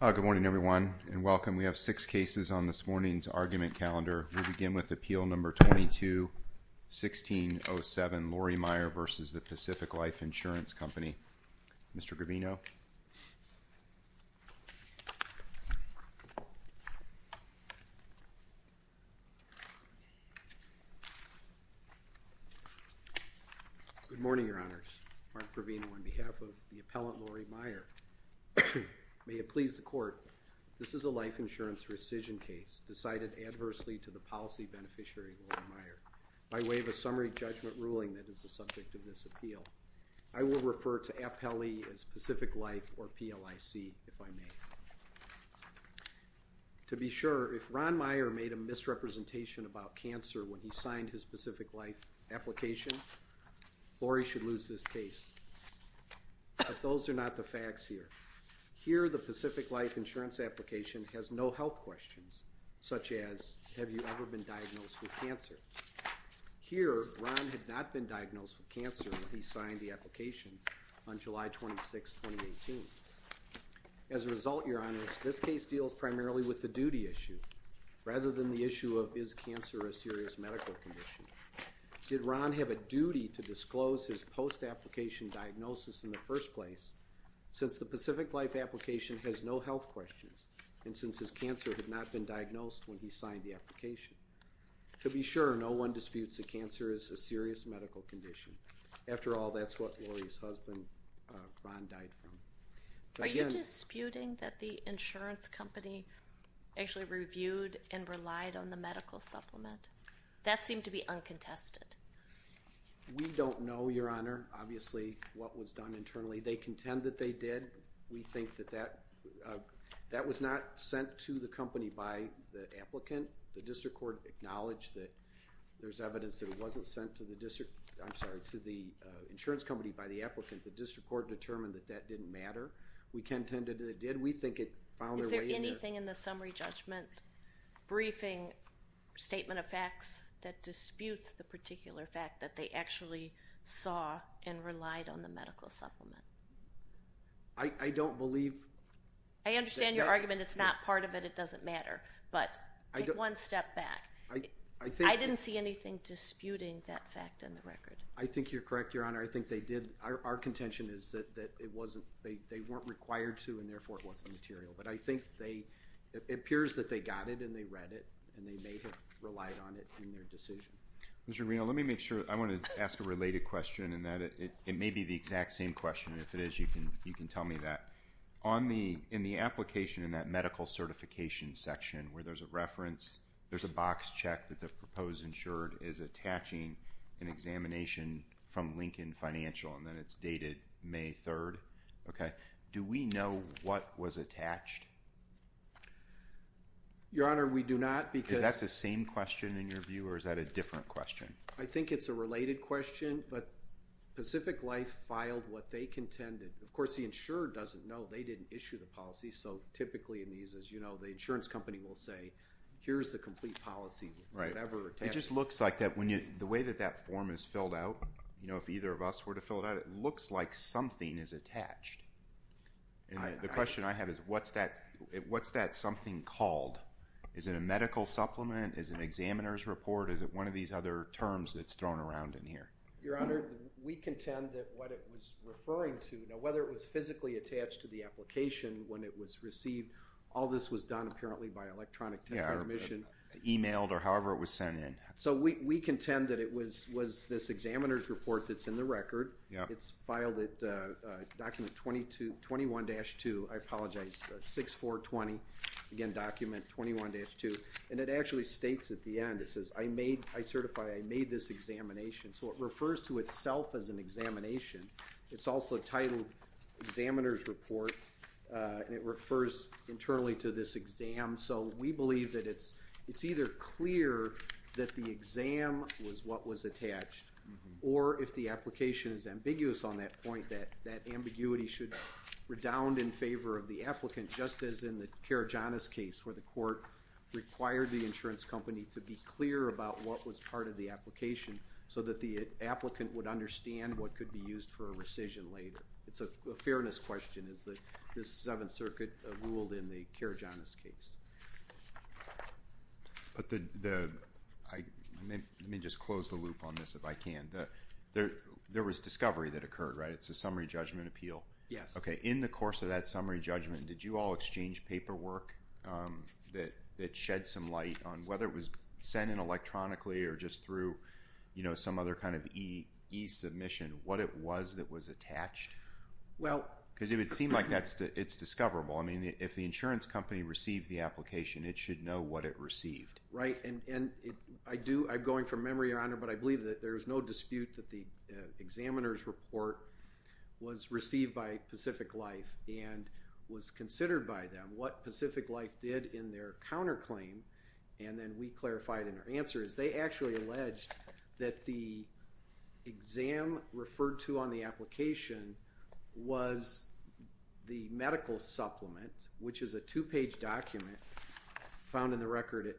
Good morning, everyone, and welcome. We have six cases on this morning's argument calendar. We'll begin with Appeal No. 22-1607, Lorrie Meier v. Pacific Life Insurance Company. Mr. Garvino. Good morning, Your Honors. Good morning. On behalf of the appellant, Lorrie Meier, may it please the Court, this is a life insurance rescission case decided adversely to the policy beneficiary, Lorrie Meier, by way of a summary judgment ruling that is the subject of this appeal. I will refer to Appellee as Pacific Life or PLIC, if I may. To be sure, if Ron Meier made a misrepresentation about cancer when he signed his Pacific Life insurance application, Lorrie should lose this case, but those are not the facts here. Here the Pacific Life insurance application has no health questions, such as, have you ever been diagnosed with cancer? Here Ron had not been diagnosed with cancer when he signed the application on July 26, 2018. As a result, Your Honors, this case deals primarily with the duty issue rather than the issue of is cancer a serious medical condition. Did Ron have a duty to disclose his post-application diagnosis in the first place, since the Pacific Life application has no health questions, and since his cancer had not been diagnosed when he signed the application? To be sure, no one disputes that cancer is a serious medical condition. After all, that's what Lorrie's husband, Ron, died from. Are you disputing that the insurance company actually reviewed and relied on the medical supplement? That seemed to be uncontested. We don't know, Your Honor, obviously, what was done internally. They contend that they did. We think that that was not sent to the company by the applicant. The district court acknowledged that there's evidence that it wasn't sent to the district, I'm sorry, to the insurance company by the applicant. The district court determined that that didn't matter. We contend that it did. We think it found a way to- Is there anything in the summary judgment briefing statement of facts that disputes the particular fact that they actually saw and relied on the medical supplement? I don't believe- I understand your argument. It's not part of it. It doesn't matter. But take one step back. I didn't see anything disputing that fact in the record. I think you're correct, Your Honor. I think they did. Our contention is that they weren't required to, and therefore, it wasn't material. But I think it appears that they got it, and they read it, and they may have relied on it in their decision. Mr. Reno, let me make sure- I want to ask a related question, and it may be the exact same question. If it is, you can tell me that. In the application in that medical certification section where there's a reference, there's a box check that the proposed insured is attaching an examination from Lincoln Financial, and then it's dated May 3rd. Do we know what was attached? Your Honor, we do not, because- Is that the same question in your view, or is that a different question? I think it's a related question, but Pacific Life filed what they contended. Of course, the insurer doesn't know. They didn't issue the policy, so typically in these, as you know, the insurance company will say, here's the complete policy, whatever- It just looks like that. The way that that form is filled out, if either of us were to fill it out, it looks like something is attached. The question I have is, what's that something called? Is it a medical supplement? Is it an examiner's report? Is it one of these other terms that's thrown around in here? Your Honor, we contend that what it was referring to, whether it was physically attached to the application when it was received, all this was done apparently by electronic transmission. Yeah, or emailed, or however it was sent in. We contend that it was this examiner's report that's in the record. It's filed at document 21-2, I apologize, 6420, again, document 21-2, and it actually states at the end, it says, I certified, I made this examination, so it refers to itself as an examination. It's also titled examiner's report, and it refers internally to this exam, so we believe that it's either clear that the exam was what was attached, or if the application is ambiguous on that point, that that ambiguity should redound in favor of the applicant, just as in the Karajanis case, where the court required the insurance company to be clear about what was part of the application, so that the applicant would understand what could be used for a rescission later. It's a fairness question, is that the Seventh Circuit ruled in the Karajanis case. But the, I mean, let me just close the loop on this if I can. There was discovery that occurred, right? It's a summary judgment appeal. Yes. Okay, in the course of that summary judgment, did you all exchange paperwork that shed some light on whether it was sent in electronically, or just through some other kind of e-submission, what it was that was attached? Well. Because if it seemed like that, it's discoverable. I mean, if the insurance company received the application, it should know what it received. Right, and I do, I'm going from memory, Your Honor, but I believe that there's no dispute that the examiner's report was received by Pacific Life, and was considered by them. What Pacific Life did in their counterclaim, and then we clarified in our answer, is they actually alleged that the exam referred to on the application was the medical supplement, which is a two-page document, found in the record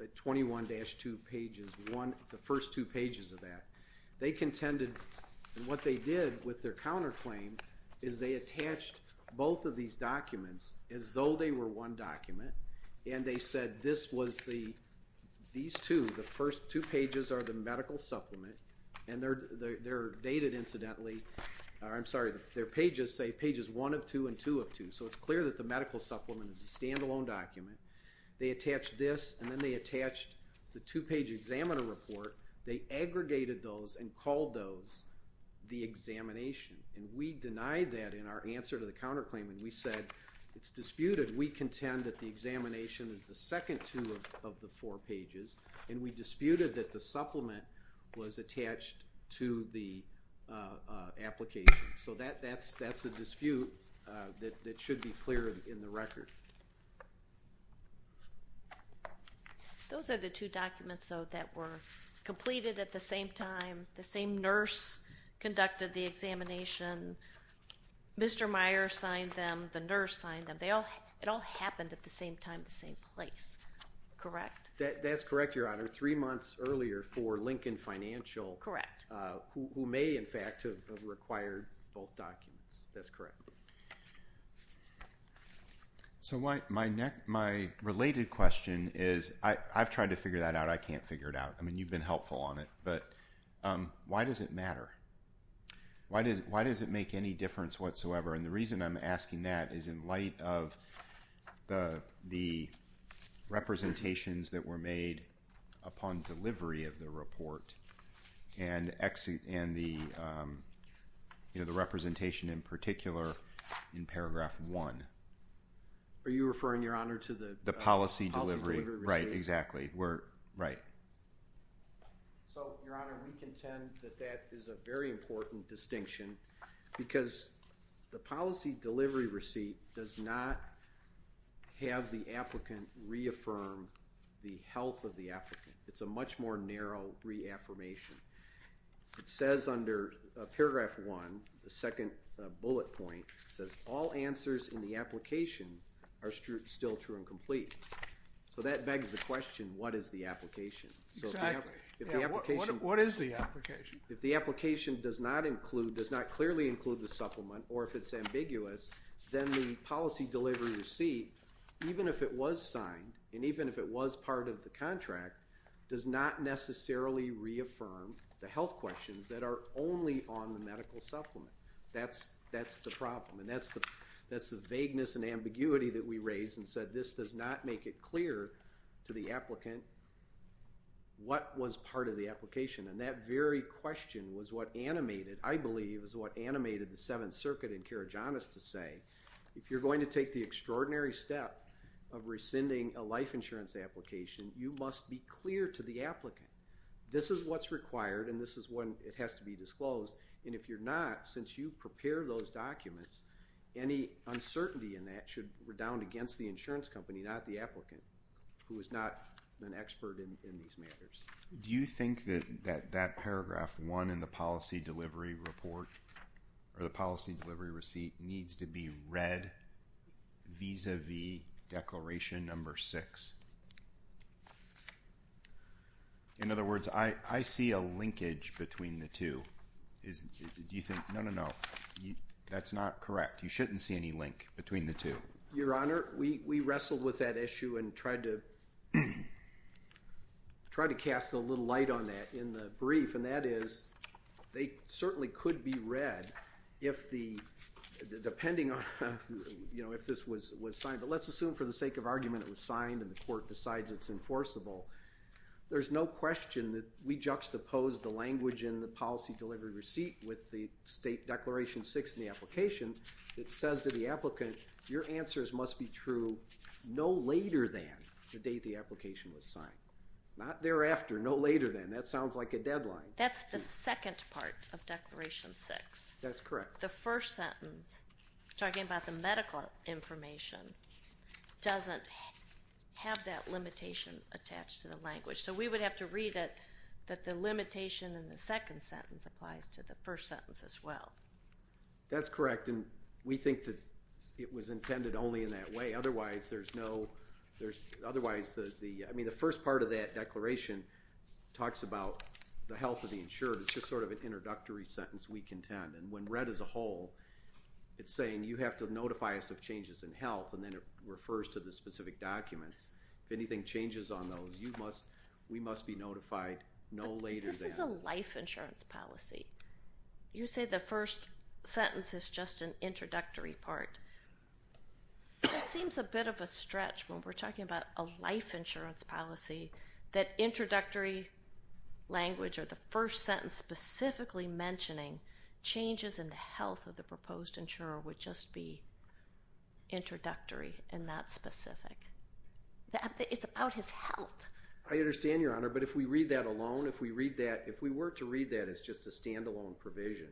at 21-2 pages, the first two pages of that. They contended, and what they did with their counterclaim, is they attached both of these the medical supplement, and they're dated, incidentally, I'm sorry, their pages say pages 1 of 2 and 2 of 2, so it's clear that the medical supplement is a stand-alone document. They attached this, and then they attached the two-page examiner report. They aggregated those and called those the examination, and we denied that in our answer to the counterclaim, and we said, it's disputed. And we contend that the examination is the second two of the four pages, and we disputed that the supplement was attached to the application. So that's a dispute that should be clear in the record. Those are the two documents, though, that were completed at the same time. The same nurse conducted the examination. Mr. Meyer signed them. The nurse signed them. They all, it all happened at the same time, the same place, correct? That's correct, Your Honor. Three months earlier for Lincoln Financial, who may, in fact, have required both documents. That's correct. So my related question is, I've tried to figure that out. I can't figure it out. I mean, you've been helpful on it, but why does it matter? Why does it make any difference whatsoever? And the reason I'm asking that is in light of the representations that were made upon delivery of the report, and the representation in particular in paragraph one. Are you referring, Your Honor, to the policy delivery? The policy delivery. Right, exactly. We're, right. So, Your Honor, we contend that that is a very important distinction, because the policy delivery receipt does not have the applicant reaffirm the health of the applicant. It's a much more narrow reaffirmation. It says under paragraph one, the second bullet point, it says, all answers in the application are still true and complete. So that begs the question, what is the application? Exactly. If the application. What is the application? If the application does not include, does not clearly include the supplement, or if it's ambiguous, then the policy delivery receipt, even if it was signed, and even if it was part of the contract, does not necessarily reaffirm the health questions that are only on the medical supplement. That's the problem. And that's the vagueness and ambiguity that we raised and said this does not make it clear to the applicant what was part of the application. And that very question was what animated, I believe, is what animated the Seventh Circuit in Karygiannis to say, if you're going to take the extraordinary step of rescinding a life insurance application, you must be clear to the applicant. This is what's required, and this is when it has to be disclosed, and if you're not, since you prepare those documents, any uncertainty in that should redound against the insurance company, not the applicant, who is not an expert in these matters. Do you think that that paragraph one in the policy delivery report, or the policy delivery receipt, needs to be read vis-a-vis declaration number six? In other words, I see a linkage between the two. Do you think, no, no, no, that's not correct. You shouldn't see any link between the two. Your Honor, we wrestled with that issue and tried to cast a little light on that in the brief, and that is, they certainly could be read if the, depending on, you know, if this was signed. But let's assume for the sake of argument it was signed and the court decides it's enforceable. There's no question that we juxtaposed the language in the policy delivery receipt with the state declaration six in the application that says to the applicant, your answers must be true no later than the date the application was signed. Not thereafter. No later than. That sounds like a deadline. That's the second part of declaration six. That's correct. The first sentence, talking about the medical information, doesn't have that limitation attached to the language. So we would have to read it that the limitation in the second sentence applies to the first sentence as well. That's correct. And we think that it was intended only in that way, otherwise there's no, there's, otherwise the, I mean, the first part of that declaration talks about the health of the insured. It's just sort of an introductory sentence we contend. And when read as a whole, it's saying you have to notify us of changes in health and then it refers to the specific documents. If anything changes on those, you must, we must be notified no later than. That's a life insurance policy. You say the first sentence is just an introductory part. It seems a bit of a stretch when we're talking about a life insurance policy that introductory language or the first sentence specifically mentioning changes in the health of the proposed insurer would just be introductory and not specific. I understand, Your Honor. But if we read that alone, if we read that, if we were to read that as just a stand-alone provision,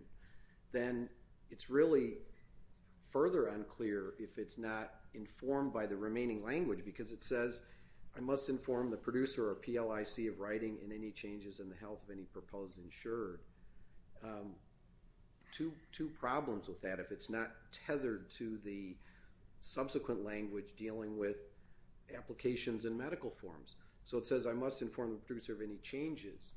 then it's really further unclear if it's not informed by the remaining language because it says I must inform the producer or PLIC of writing in any changes in the health of any proposed insurer. Two problems with that, if it's not tethered to the subsequent language dealing with applications in medical forms. So it says I must inform the producer of any changes.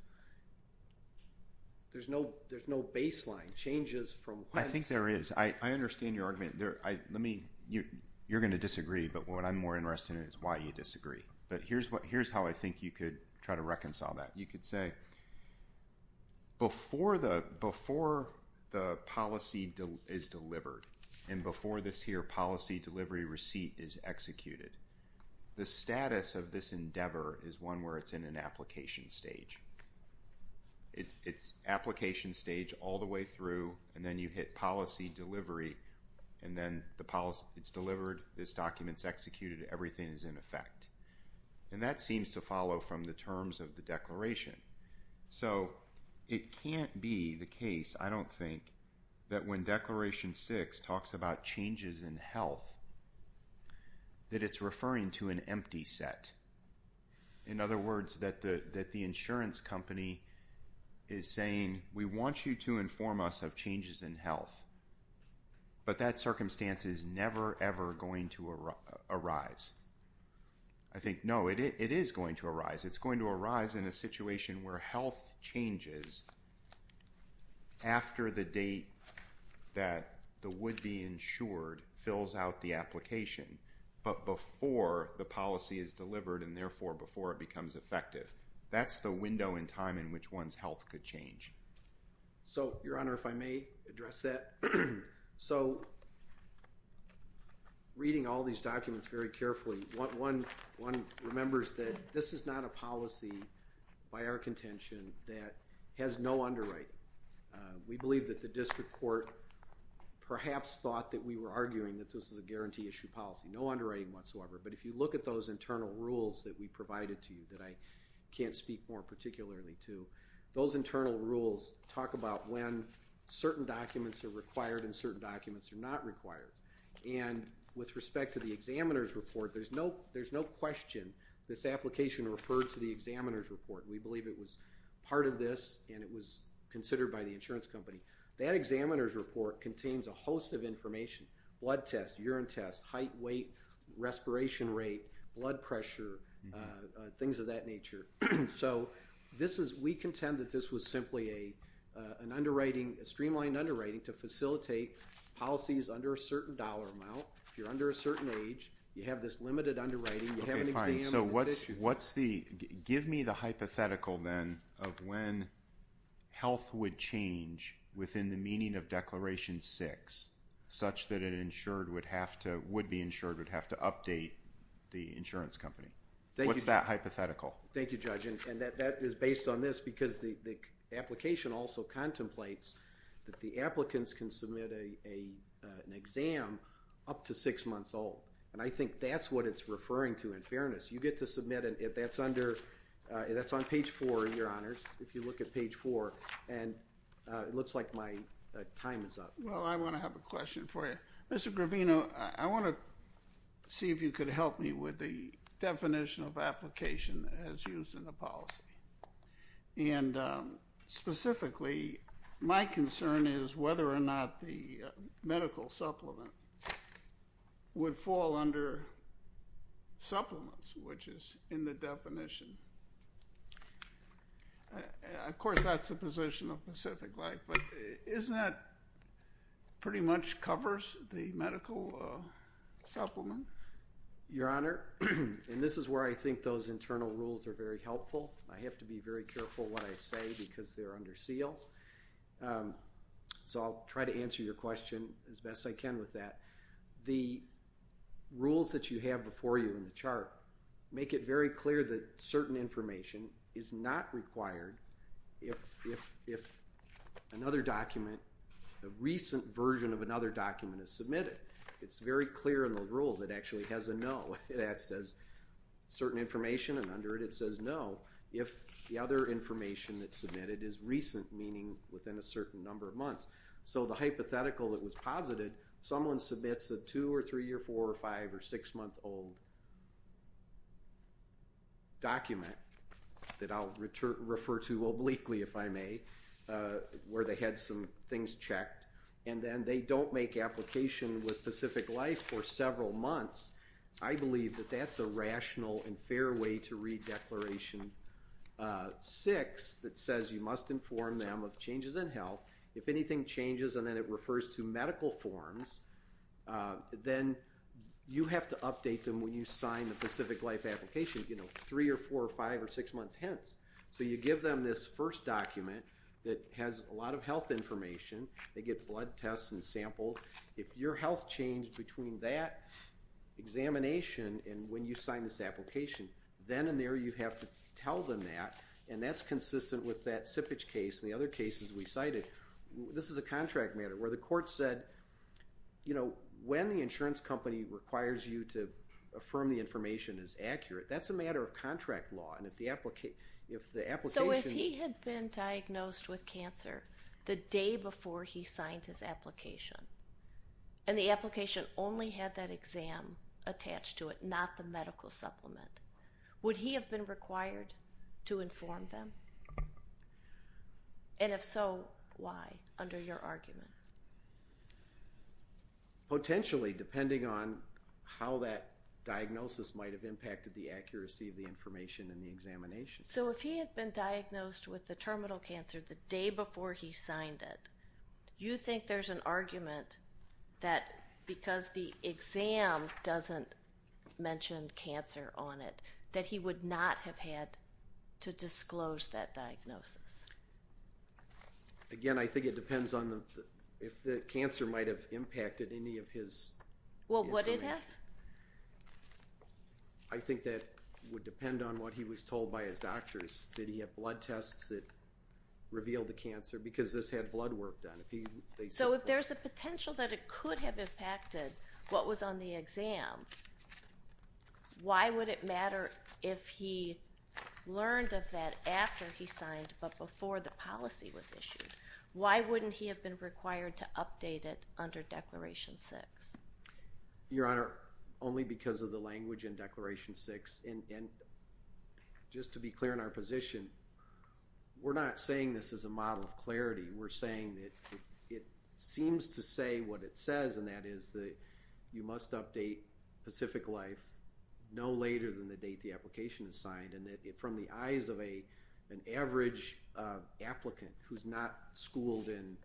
There's no baseline, changes from. I think there is. I understand your argument there. Let me, you're going to disagree, but what I'm more interested in is why you disagree. But here's what, here's how I think you could try to reconcile that. You could say before the policy is delivered and before this here policy delivery receipt is executed, the status of this endeavor is one where it's in an application stage. It's application stage all the way through and then you hit policy delivery and then the policy, it's delivered, this document's executed, everything is in effect. And that seems to follow from the terms of the declaration. So it can't be the case, I don't think, that when Declaration 6 talks about changes in health, that it's referring to an empty set. In other words, that the insurance company is saying we want you to inform us of changes in health, but that circumstance is never ever going to arise. It's going to arise in a situation where health changes after the date that the would-be insured fills out the application, but before the policy is delivered and therefore before it becomes effective. That's the window in time in which one's health could change. So Your Honor, if I may address that. So reading all these documents very carefully, one remembers that this is not a policy by our contention that has no underwriting. We believe that the district court perhaps thought that we were arguing that this is a guarantee issue policy, no underwriting whatsoever, but if you look at those internal rules that we provided to you that I can't speak more particularly to, those internal rules talk about when certain documents are required and certain documents are not required. And with respect to the examiner's report, there's no question this application referred to the examiner's report. We believe it was part of this and it was considered by the insurance company. That examiner's report contains a host of information, blood tests, urine tests, height, weight, respiration rate, blood pressure, things of that nature. So this is, we contend that this was simply an underwriting, a streamlined underwriting to facilitate policies under a certain dollar amount, if you're under a certain age, you have this limited underwriting, you have an examiner's report. Okay, fine. So what's the, give me the hypothetical then of when health would change within the meaning of Declaration 6 such that an insured would have to, would be insured, would have to update the insurance company. Thank you. What's that hypothetical? Thank you, Judge. And that is based on this because the application also contemplates that the applicants can submit a, an exam up to six months old. And I think that's what it's referring to in fairness. You get to submit it, that's under, that's on page four, your honors, if you look at page four and it looks like my time is up. Well, I want to have a question for you. Mr. Gravino, I want to see if you could help me with the definition of application as used in the policy. And specifically, my concern is whether or not the medical supplement would fall under that definition. Of course, that's the position of Pacific Life, but isn't that pretty much covers the medical supplement? Your Honor, and this is where I think those internal rules are very helpful. I have to be very careful what I say because they're under seal. So I'll try to answer your question as best I can with that. The rules that you have before you in the chart make it very clear that certain information is not required if another document, a recent version of another document is submitted. It's very clear in the rules, it actually has a no. It says certain information and under it, it says no. If the other information that's submitted is recent, meaning within a certain number of months. So the hypothetical that was posited, someone submits a two or three or four or five or six month old document that I'll refer to obliquely if I may, where they had some things checked and then they don't make application with Pacific Life for several months. I believe that that's a rational and fair way to read Declaration 6 that says you must inform them of changes in health. If anything changes and then it refers to medical forms, then you have to update them when you sign the Pacific Life application, you know, three or four or five or six months hence. So you give them this first document that has a lot of health information, they get blood tests and samples. If your health changed between that examination and when you sign this application, then and there you have to tell them that and that's consistent with that sippage case and the other cases we cited. This is a contract matter where the court said, you know, when the insurance company requires you to affirm the information as accurate, that's a matter of contract law and if the application... So if he had been diagnosed with cancer the day before he signed his application and the application only had that exam attached to it, not the medical supplement, would he have been required to inform them? And if so, why? Under your argument. Potentially, depending on how that diagnosis might have impacted the accuracy of the information in the examination. So if he had been diagnosed with the terminal cancer the day before he signed it, you think there's an argument that because the exam doesn't mention cancer on it, that he would not have had to disclose that diagnosis? Again I think it depends on if the cancer might have impacted any of his... Well would it have? I think that would depend on what he was told by his doctors. Did he have blood tests that revealed the cancer? Because this had blood work done. So if there's a potential that it could have impacted what was on the exam, why would it He learned of that after he signed, but before the policy was issued. Why wouldn't he have been required to update it under Declaration 6? Your Honor, only because of the language in Declaration 6. And just to be clear in our position, we're not saying this as a model of clarity. We're saying that it seems to say what it says, and that is that you must update Pacific Wildlife no later than the date the application is signed, and that from the eyes of an average applicant who's not schooled in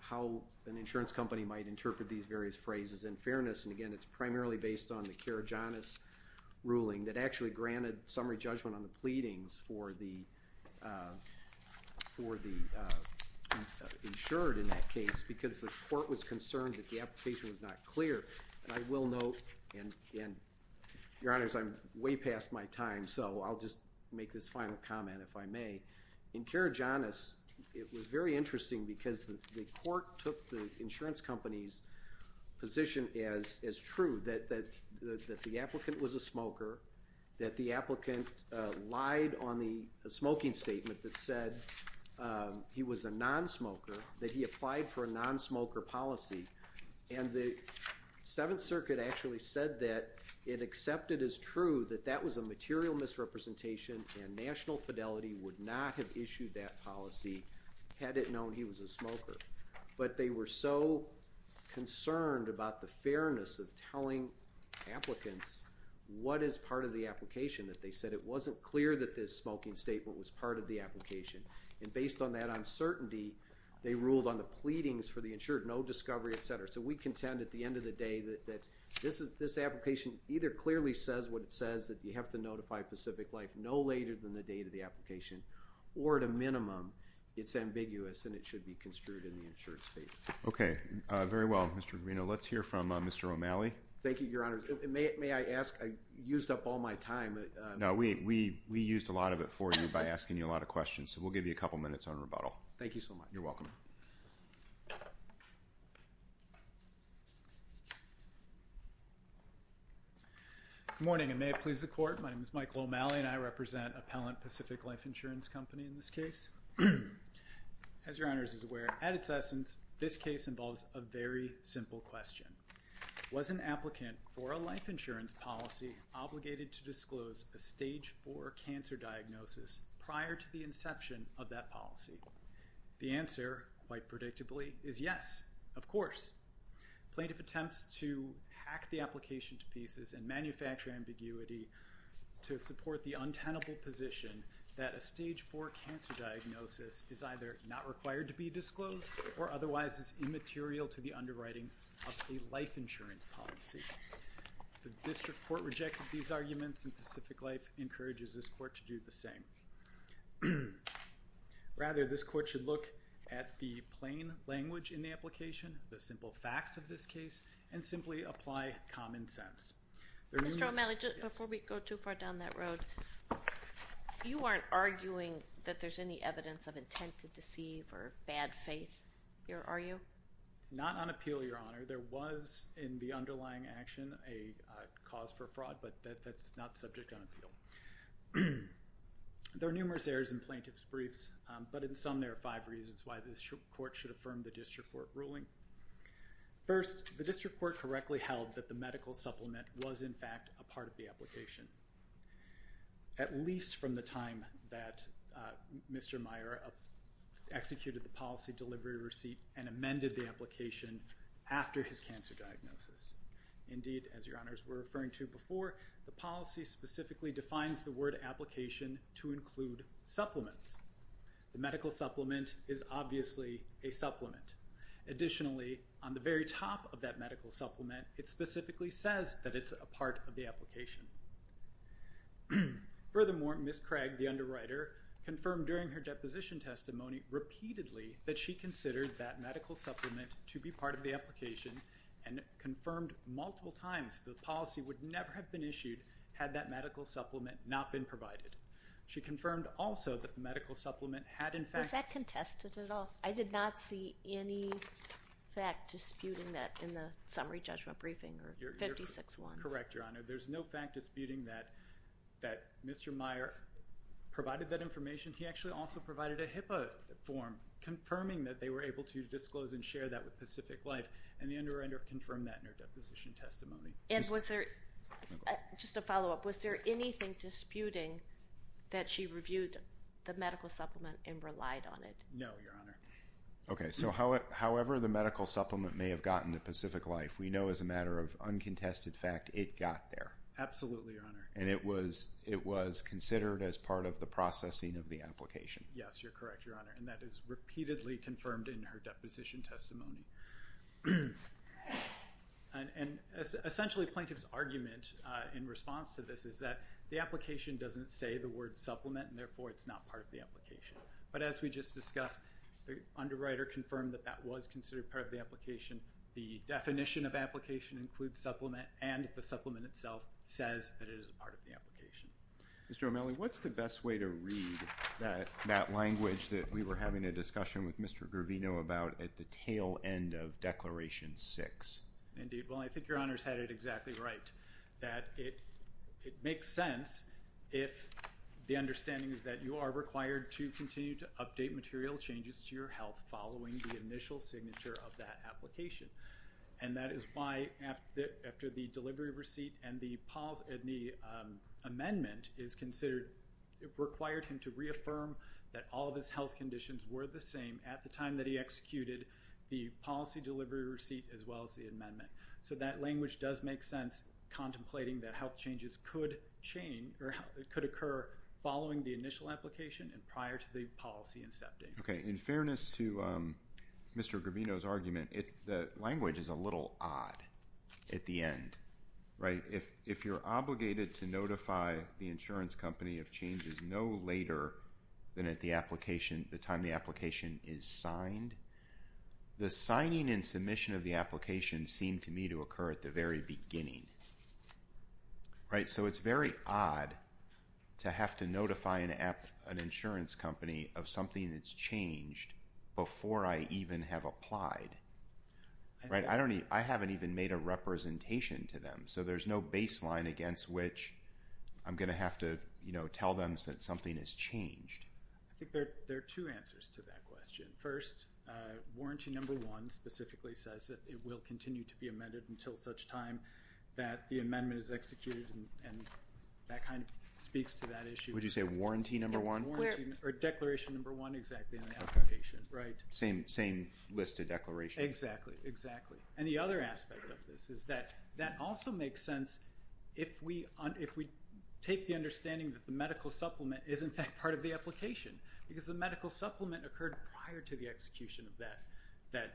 how an insurance company might interpret these various phrases in fairness, and again it's primarily based on the Karajanis ruling that actually granted summary judgment on the pleadings for the insured in that case, because the court was Your Honor, I'm way past my time, so I'll just make this final comment if I may. In Karajanis, it was very interesting because the court took the insurance company's position as true, that the applicant was a smoker, that the applicant lied on the smoking statement that said he was a non-smoker, that he applied for a non-smoker policy, and the Seventh Circuit actually said that it accepted as true that that was a material misrepresentation and national fidelity would not have issued that policy had it known he was a smoker. But they were so concerned about the fairness of telling applicants what is part of the application that they said it wasn't clear that this smoking statement was part of the application, and based on that uncertainty, they ruled on the pleadings for the insured, no discovery, et cetera. So we contend at the end of the day that this application either clearly says what it says, that you have to notify Pacific Life no later than the date of the application, or at a minimum, it's ambiguous and it should be construed in the insured state. Okay, very well, Mr. Guarino. Let's hear from Mr. O'Malley. Thank you, Your Honor. May I ask, I used up all my time. No, we used a lot of it for you by asking you a lot of questions, so we'll give you a couple minutes on rebuttal. Thank you so much. You're welcome. Good morning, and may it please the Court. My name is Mike O'Malley and I represent Appellant Pacific Life Insurance Company in this case. As Your Honors is aware, at its essence, this case involves a very simple question. Was an applicant for a life insurance policy obligated to disclose a stage four cancer diagnosis prior to the inception of that policy? The answer, quite predictably, is yes, of course. Plaintiff attempts to hack the application to pieces and manufacture ambiguity to support the untenable position that a stage four cancer diagnosis is either not required to be disclosed or otherwise is immaterial to the underwriting of a life insurance policy. The district court rejected these arguments and Pacific Life encourages this court to do the same. Rather, this court should look at the plain language in the application, the simple facts of this case, and simply apply common sense. Mr. O'Malley, before we go too far down that road, you aren't arguing that there's any evidence of intent to deceive or bad faith here, are you? Not on appeal, Your Honor. There was, in the underlying action, a cause for fraud, but that's not subject on appeal. There are numerous errors in plaintiff's briefs, but in sum, there are five reasons why this court should affirm the district court ruling. First, the district court correctly held that the medical supplement was, in fact, a part of the application, at least from the time that Mr. Meyer executed the policy delivery receipt and amended the application after his cancer diagnosis. Indeed, as Your Honors were referring to before, the policy specifically defines the word application to include supplements. The medical supplement is obviously a supplement. Additionally, on the very top of that medical supplement, it specifically says that it's a part of the application. Furthermore, Ms. Craig, the underwriter, confirmed during her deposition testimony repeatedly that she considered that medical supplement to be part of the application and confirmed multiple times the policy would never have been issued had that medical supplement not been provided. She confirmed also that the medical supplement had, in fact- Was that contested at all? I did not see any fact disputing that in the summary judgment briefing or 56-1s. Correct, Your Honor. There's no fact disputing that Mr. Meyer provided that information. He actually also provided a HIPAA form confirming that they were able to disclose and share that with Pacific Life. And the underwriter confirmed that in her deposition testimony. And was there- Just a follow-up. Was there anything disputing that she reviewed the medical supplement and relied on it? No, Your Honor. Okay, so however the medical supplement may have gotten to Pacific Life, we know as a matter of uncontested fact it got there. Absolutely, Your Honor. And it was considered as part of the processing of the application. Yes, you're correct, Your Honor. And that is repeatedly confirmed in her deposition testimony. And essentially plaintiff's argument in response to this is that the application doesn't say the word supplement and therefore it's not part of the application. But as we just discussed, the underwriter confirmed that that was considered part of the application. The definition of application includes supplement and the supplement itself says that it is part of the application. Mr. O'Malley, what's the best way to read that language that we were having a discussion with Mr. Garvino about at the tail end of Declaration 6? Indeed. Well, I think Your Honor's had it exactly right. That it makes sense if the understanding is that you are required to continue to update material changes to your health following the initial signature of that application. And that is why after the delivery receipt and the Paul Edney amendment is considered- were the same at the time that he executed the policy delivery receipt as well as the amendment, so that language does make sense contemplating that health changes could change or could occur following the initial application and prior to the policy incepting. Okay. In fairness to Mr. Garvino's argument, the language is a little odd at the end, right? If you're obligated to notify the insurance company of changes no later than at the application- the time the application is signed, the signing and submission of the application seemed to me to occur at the very beginning, right? So it's very odd to have to notify an insurance company of something that's changed before I even have applied, right? I don't even- I haven't even made a representation to them. So there's no baseline against which I'm going to have to, you know, tell them that something has changed. I think there are two answers to that question. First, warranty number one specifically says that it will continue to be amended until such time that the amendment is executed and that kind of speaks to that issue. Would you say warranty number one? Warranty- or declaration number one, exactly, on the application, right? Same list of declarations. Exactly, exactly. And the other aspect of this is that that also makes sense if we take the understanding that the medical supplement is in fact part of the application because the medical supplement occurred prior to the execution of that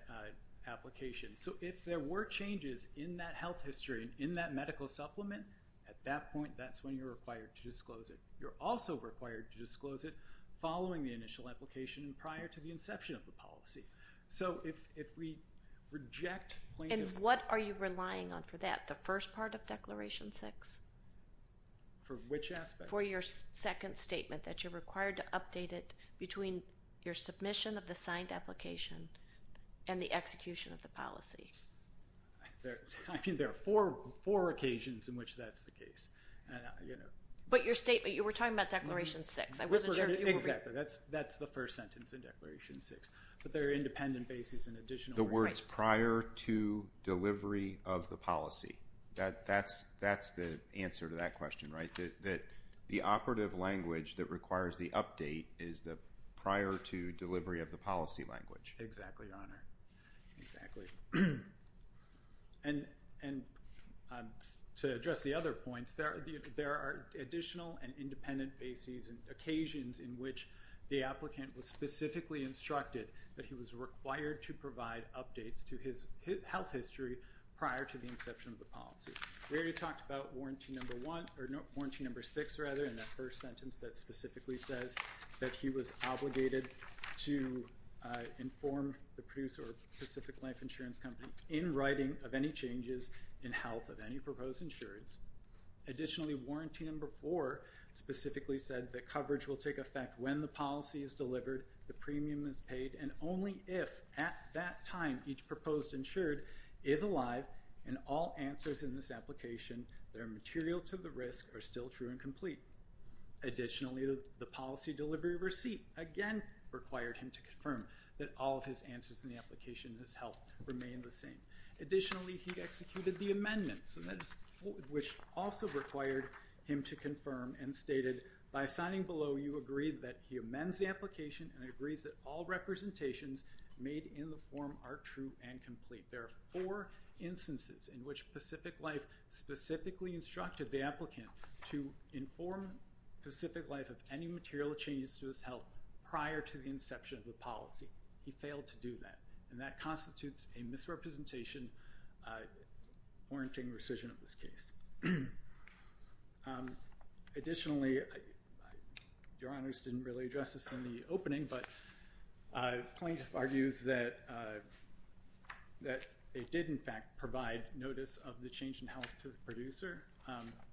application. So if there were changes in that health history and in that medical supplement, at that point that's when you're required to disclose it. You're also required to disclose it following the initial application and prior to the inception of the policy. So if we reject plaintiffs- And what are you relying on for that? The first part of Declaration 6? For which aspect? For your second statement that you're required to update it between your submission of the signed application and the execution of the policy. I think there are four occasions in which that's the case. But your statement, you were talking about Declaration 6. I wasn't sure if you were- Exactly. That's the first sentence in Declaration 6. But there are independent bases and additional- The words prior to delivery of the policy. That's the answer to that question, right? That the operative language that requires the update is the prior to delivery of the policy language. Exactly, Your Honor. Exactly. And to address the other points, there are additional and independent bases and occasions in which the applicant was specifically instructed that he was required to provide updates to his health history prior to the inception of the policy. We already talked about warranty number one, or warranty number six, rather, in that first sentence that specifically says that he was obligated to inform the producer of Pacific Life Insurance Company in writing of any changes in health of any proposed insureds. Additionally, warranty number four specifically said that coverage will take effect when the policy is delivered, the premium is paid, and only if at that time each proposed insured is alive and all answers in this application that are material to the risk are still true and complete. Additionally, the policy delivery receipt, again, required him to confirm that all of his answers in the application has helped remain the same. Additionally, he executed the amendments, which also required him to confirm and stated, by signing below, you agree that he amends the application and agrees that all representations made in the form are true and complete. There are four instances in which Pacific Life specifically instructed the applicant to inform Pacific Life of any material changes to his health prior to the inception of the policy. He failed to do that, and that constitutes a misrepresentation, warranting rescission of this case. Additionally, your honors didn't really address this in the opening, but Plankett argues that it did, in fact, provide notice of the change in health to the producer,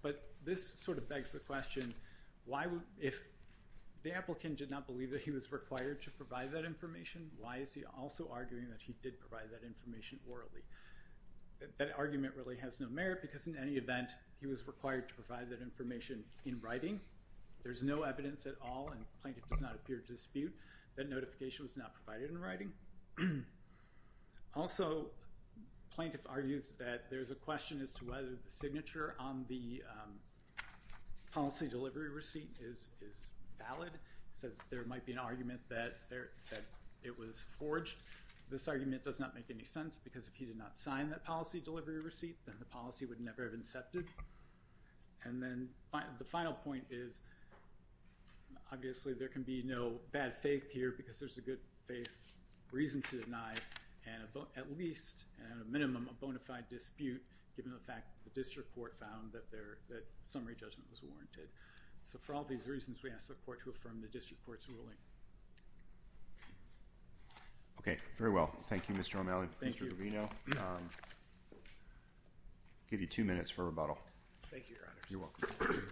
but this sort of begs the question, why would, if the applicant did not believe that he was required to provide that information, why is he also arguing that he did provide that information orally? That argument really has no merit, because in any event, he was required to provide that information in writing. There's no evidence at all, and Plankett does not appear to dispute that notification was not provided in writing. Also, Plankett argues that there's a question as to whether the signature on the policy delivery receipt is valid, so there might be an argument that it was forged. This argument does not make any sense, because if he did not sign that policy delivery receipt, then the policy would never have incepted. And then, the final point is, obviously, there can be no bad faith here, because there's a good faith reason to deny, at least, at a minimum, a bona fide dispute, given the fact that the district court found that summary judgment was warranted. So, for all these reasons, we ask the court to affirm the district court's ruling. Okay. Very well. Thank you, Mr. O'Malley. Mr. Covino, I'll give you two minutes for rebuttal. Thank you, Your Honor. You're welcome.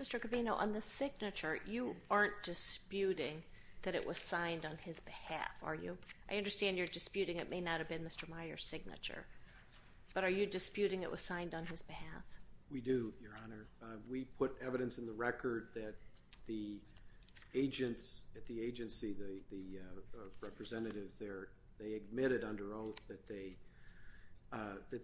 Mr. Covino, on the signature, you aren't disputing that it was signed on his behalf, are you? I understand you're disputing it may not have been Mr. Meyer's signature, but are you disputing it was signed on his behalf? We do, Your Honor. We put evidence in the record that the agents at the agency, the representatives there, they admitted under oath that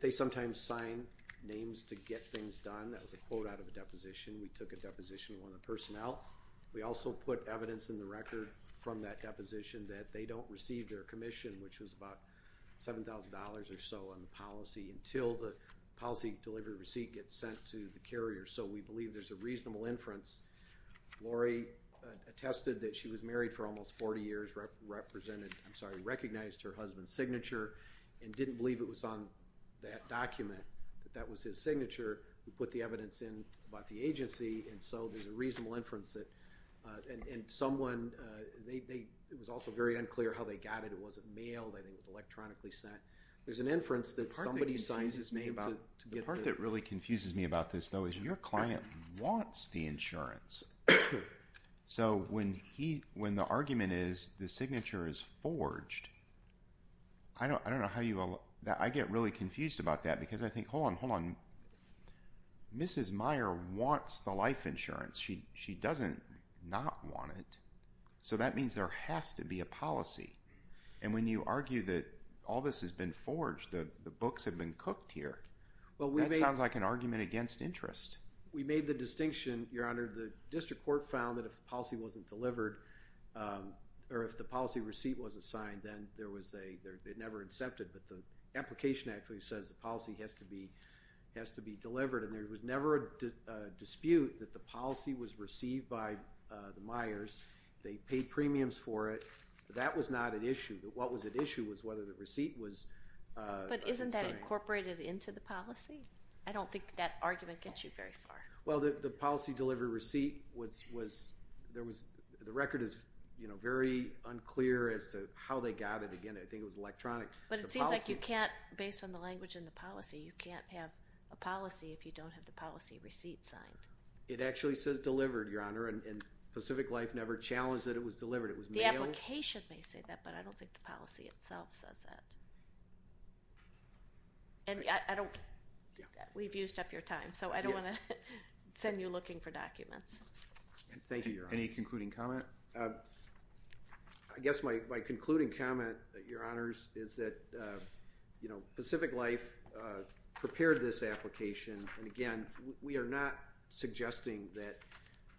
they sometimes sign names to get things done. That was a quote out of a deposition. We took a deposition of one of the personnel. We also put evidence in the record from that deposition that they don't receive their commission, which was about $7,000 or so on the policy until the policy delivery receipt gets sent to the carrier. So, we believe there's a reasonable inference. Lori attested that she was married for almost 40 years, represented, I'm sorry, recognized her husband's signature and didn't believe it was on that document. That was his signature. We put the evidence in about the agency. And so, there's a reasonable inference that, and someone, it was also very unclear how they got it. It wasn't mailed. I think it was electronically sent. There's an inference that somebody signs his name to get the- The part that really confuses me about this, though, is your client wants the insurance. So, when the argument is the signature is forged, I don't know how you, I get really confused about that because I think, hold on, hold on. Mrs. Meyer wants the life insurance. She doesn't not want it. So, that means there has to be a policy. And when you argue that all this has been forged, that the books have been cooked here, that sounds like an argument against interest. We made the distinction, Your Honor, the district court found that if the policy wasn't delivered or if the policy receipt wasn't signed, then there was a, it never accepted. But the application actually says the policy has to be delivered. And there was never a dispute that the policy was received by the Meyers. They paid premiums for it. That was not an issue. What was at issue was whether the receipt was- But isn't that incorporated into the policy? I don't think that argument gets you very far. Well, the policy delivery receipt was, there was, the record is, you know, very unclear as to how they got it. Again, I think it was electronic. But it seems like you can't, based on the language in the policy, you can't have a policy if you don't have the policy receipt signed. It actually says delivered, Your Honor, and Pacific Life never challenged that it was delivered. It was mailed. The application may say that, but I don't think the policy itself says that. And I don't, we've used up your time. So, I don't want to send you looking for documents. Thank you, Your Honor. Any concluding comment? I guess my concluding comment, Your Honors, is that, you know, Pacific Life prepared this application. And again, we are not suggesting that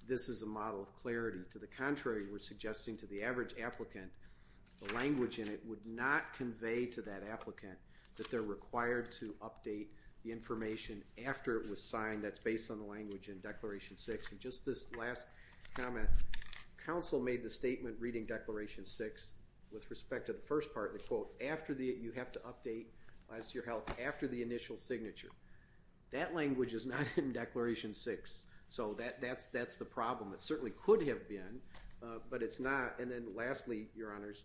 this is a model of clarity. To the contrary, we're suggesting to the average applicant the language in it would not convey to that applicant that they're required to update the information after it was signed. That's based on the language in Declaration 6. And just this last comment, counsel made the statement reading Declaration 6 with respect to the first part, the quote, after the, you have to update, as to your health, after the initial signature. That language is not in Declaration 6. So, that's the problem. It certainly could have been, but it's not. And then lastly, Your Honors,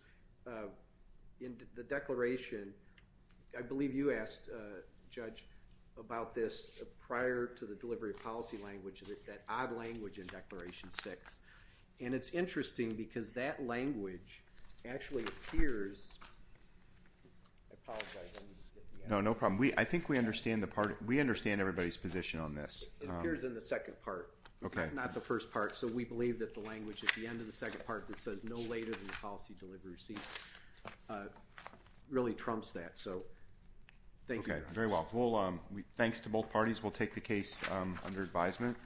in the declaration, I believe you asked, Judge, about this prior to the delivery of policy language, that odd language in Declaration 6. And it's interesting, because that language actually appears. I apologize. No, no problem. We, I think we understand the part. We understand everybody's position on this. It appears in the second part. Okay. Not the first part. So, we believe that the language at the end of the second part that says no later than the policy delivery receipt really trumps that. So, thank you. Okay. Very well. Thanks to both parties. We'll take the case under advisement.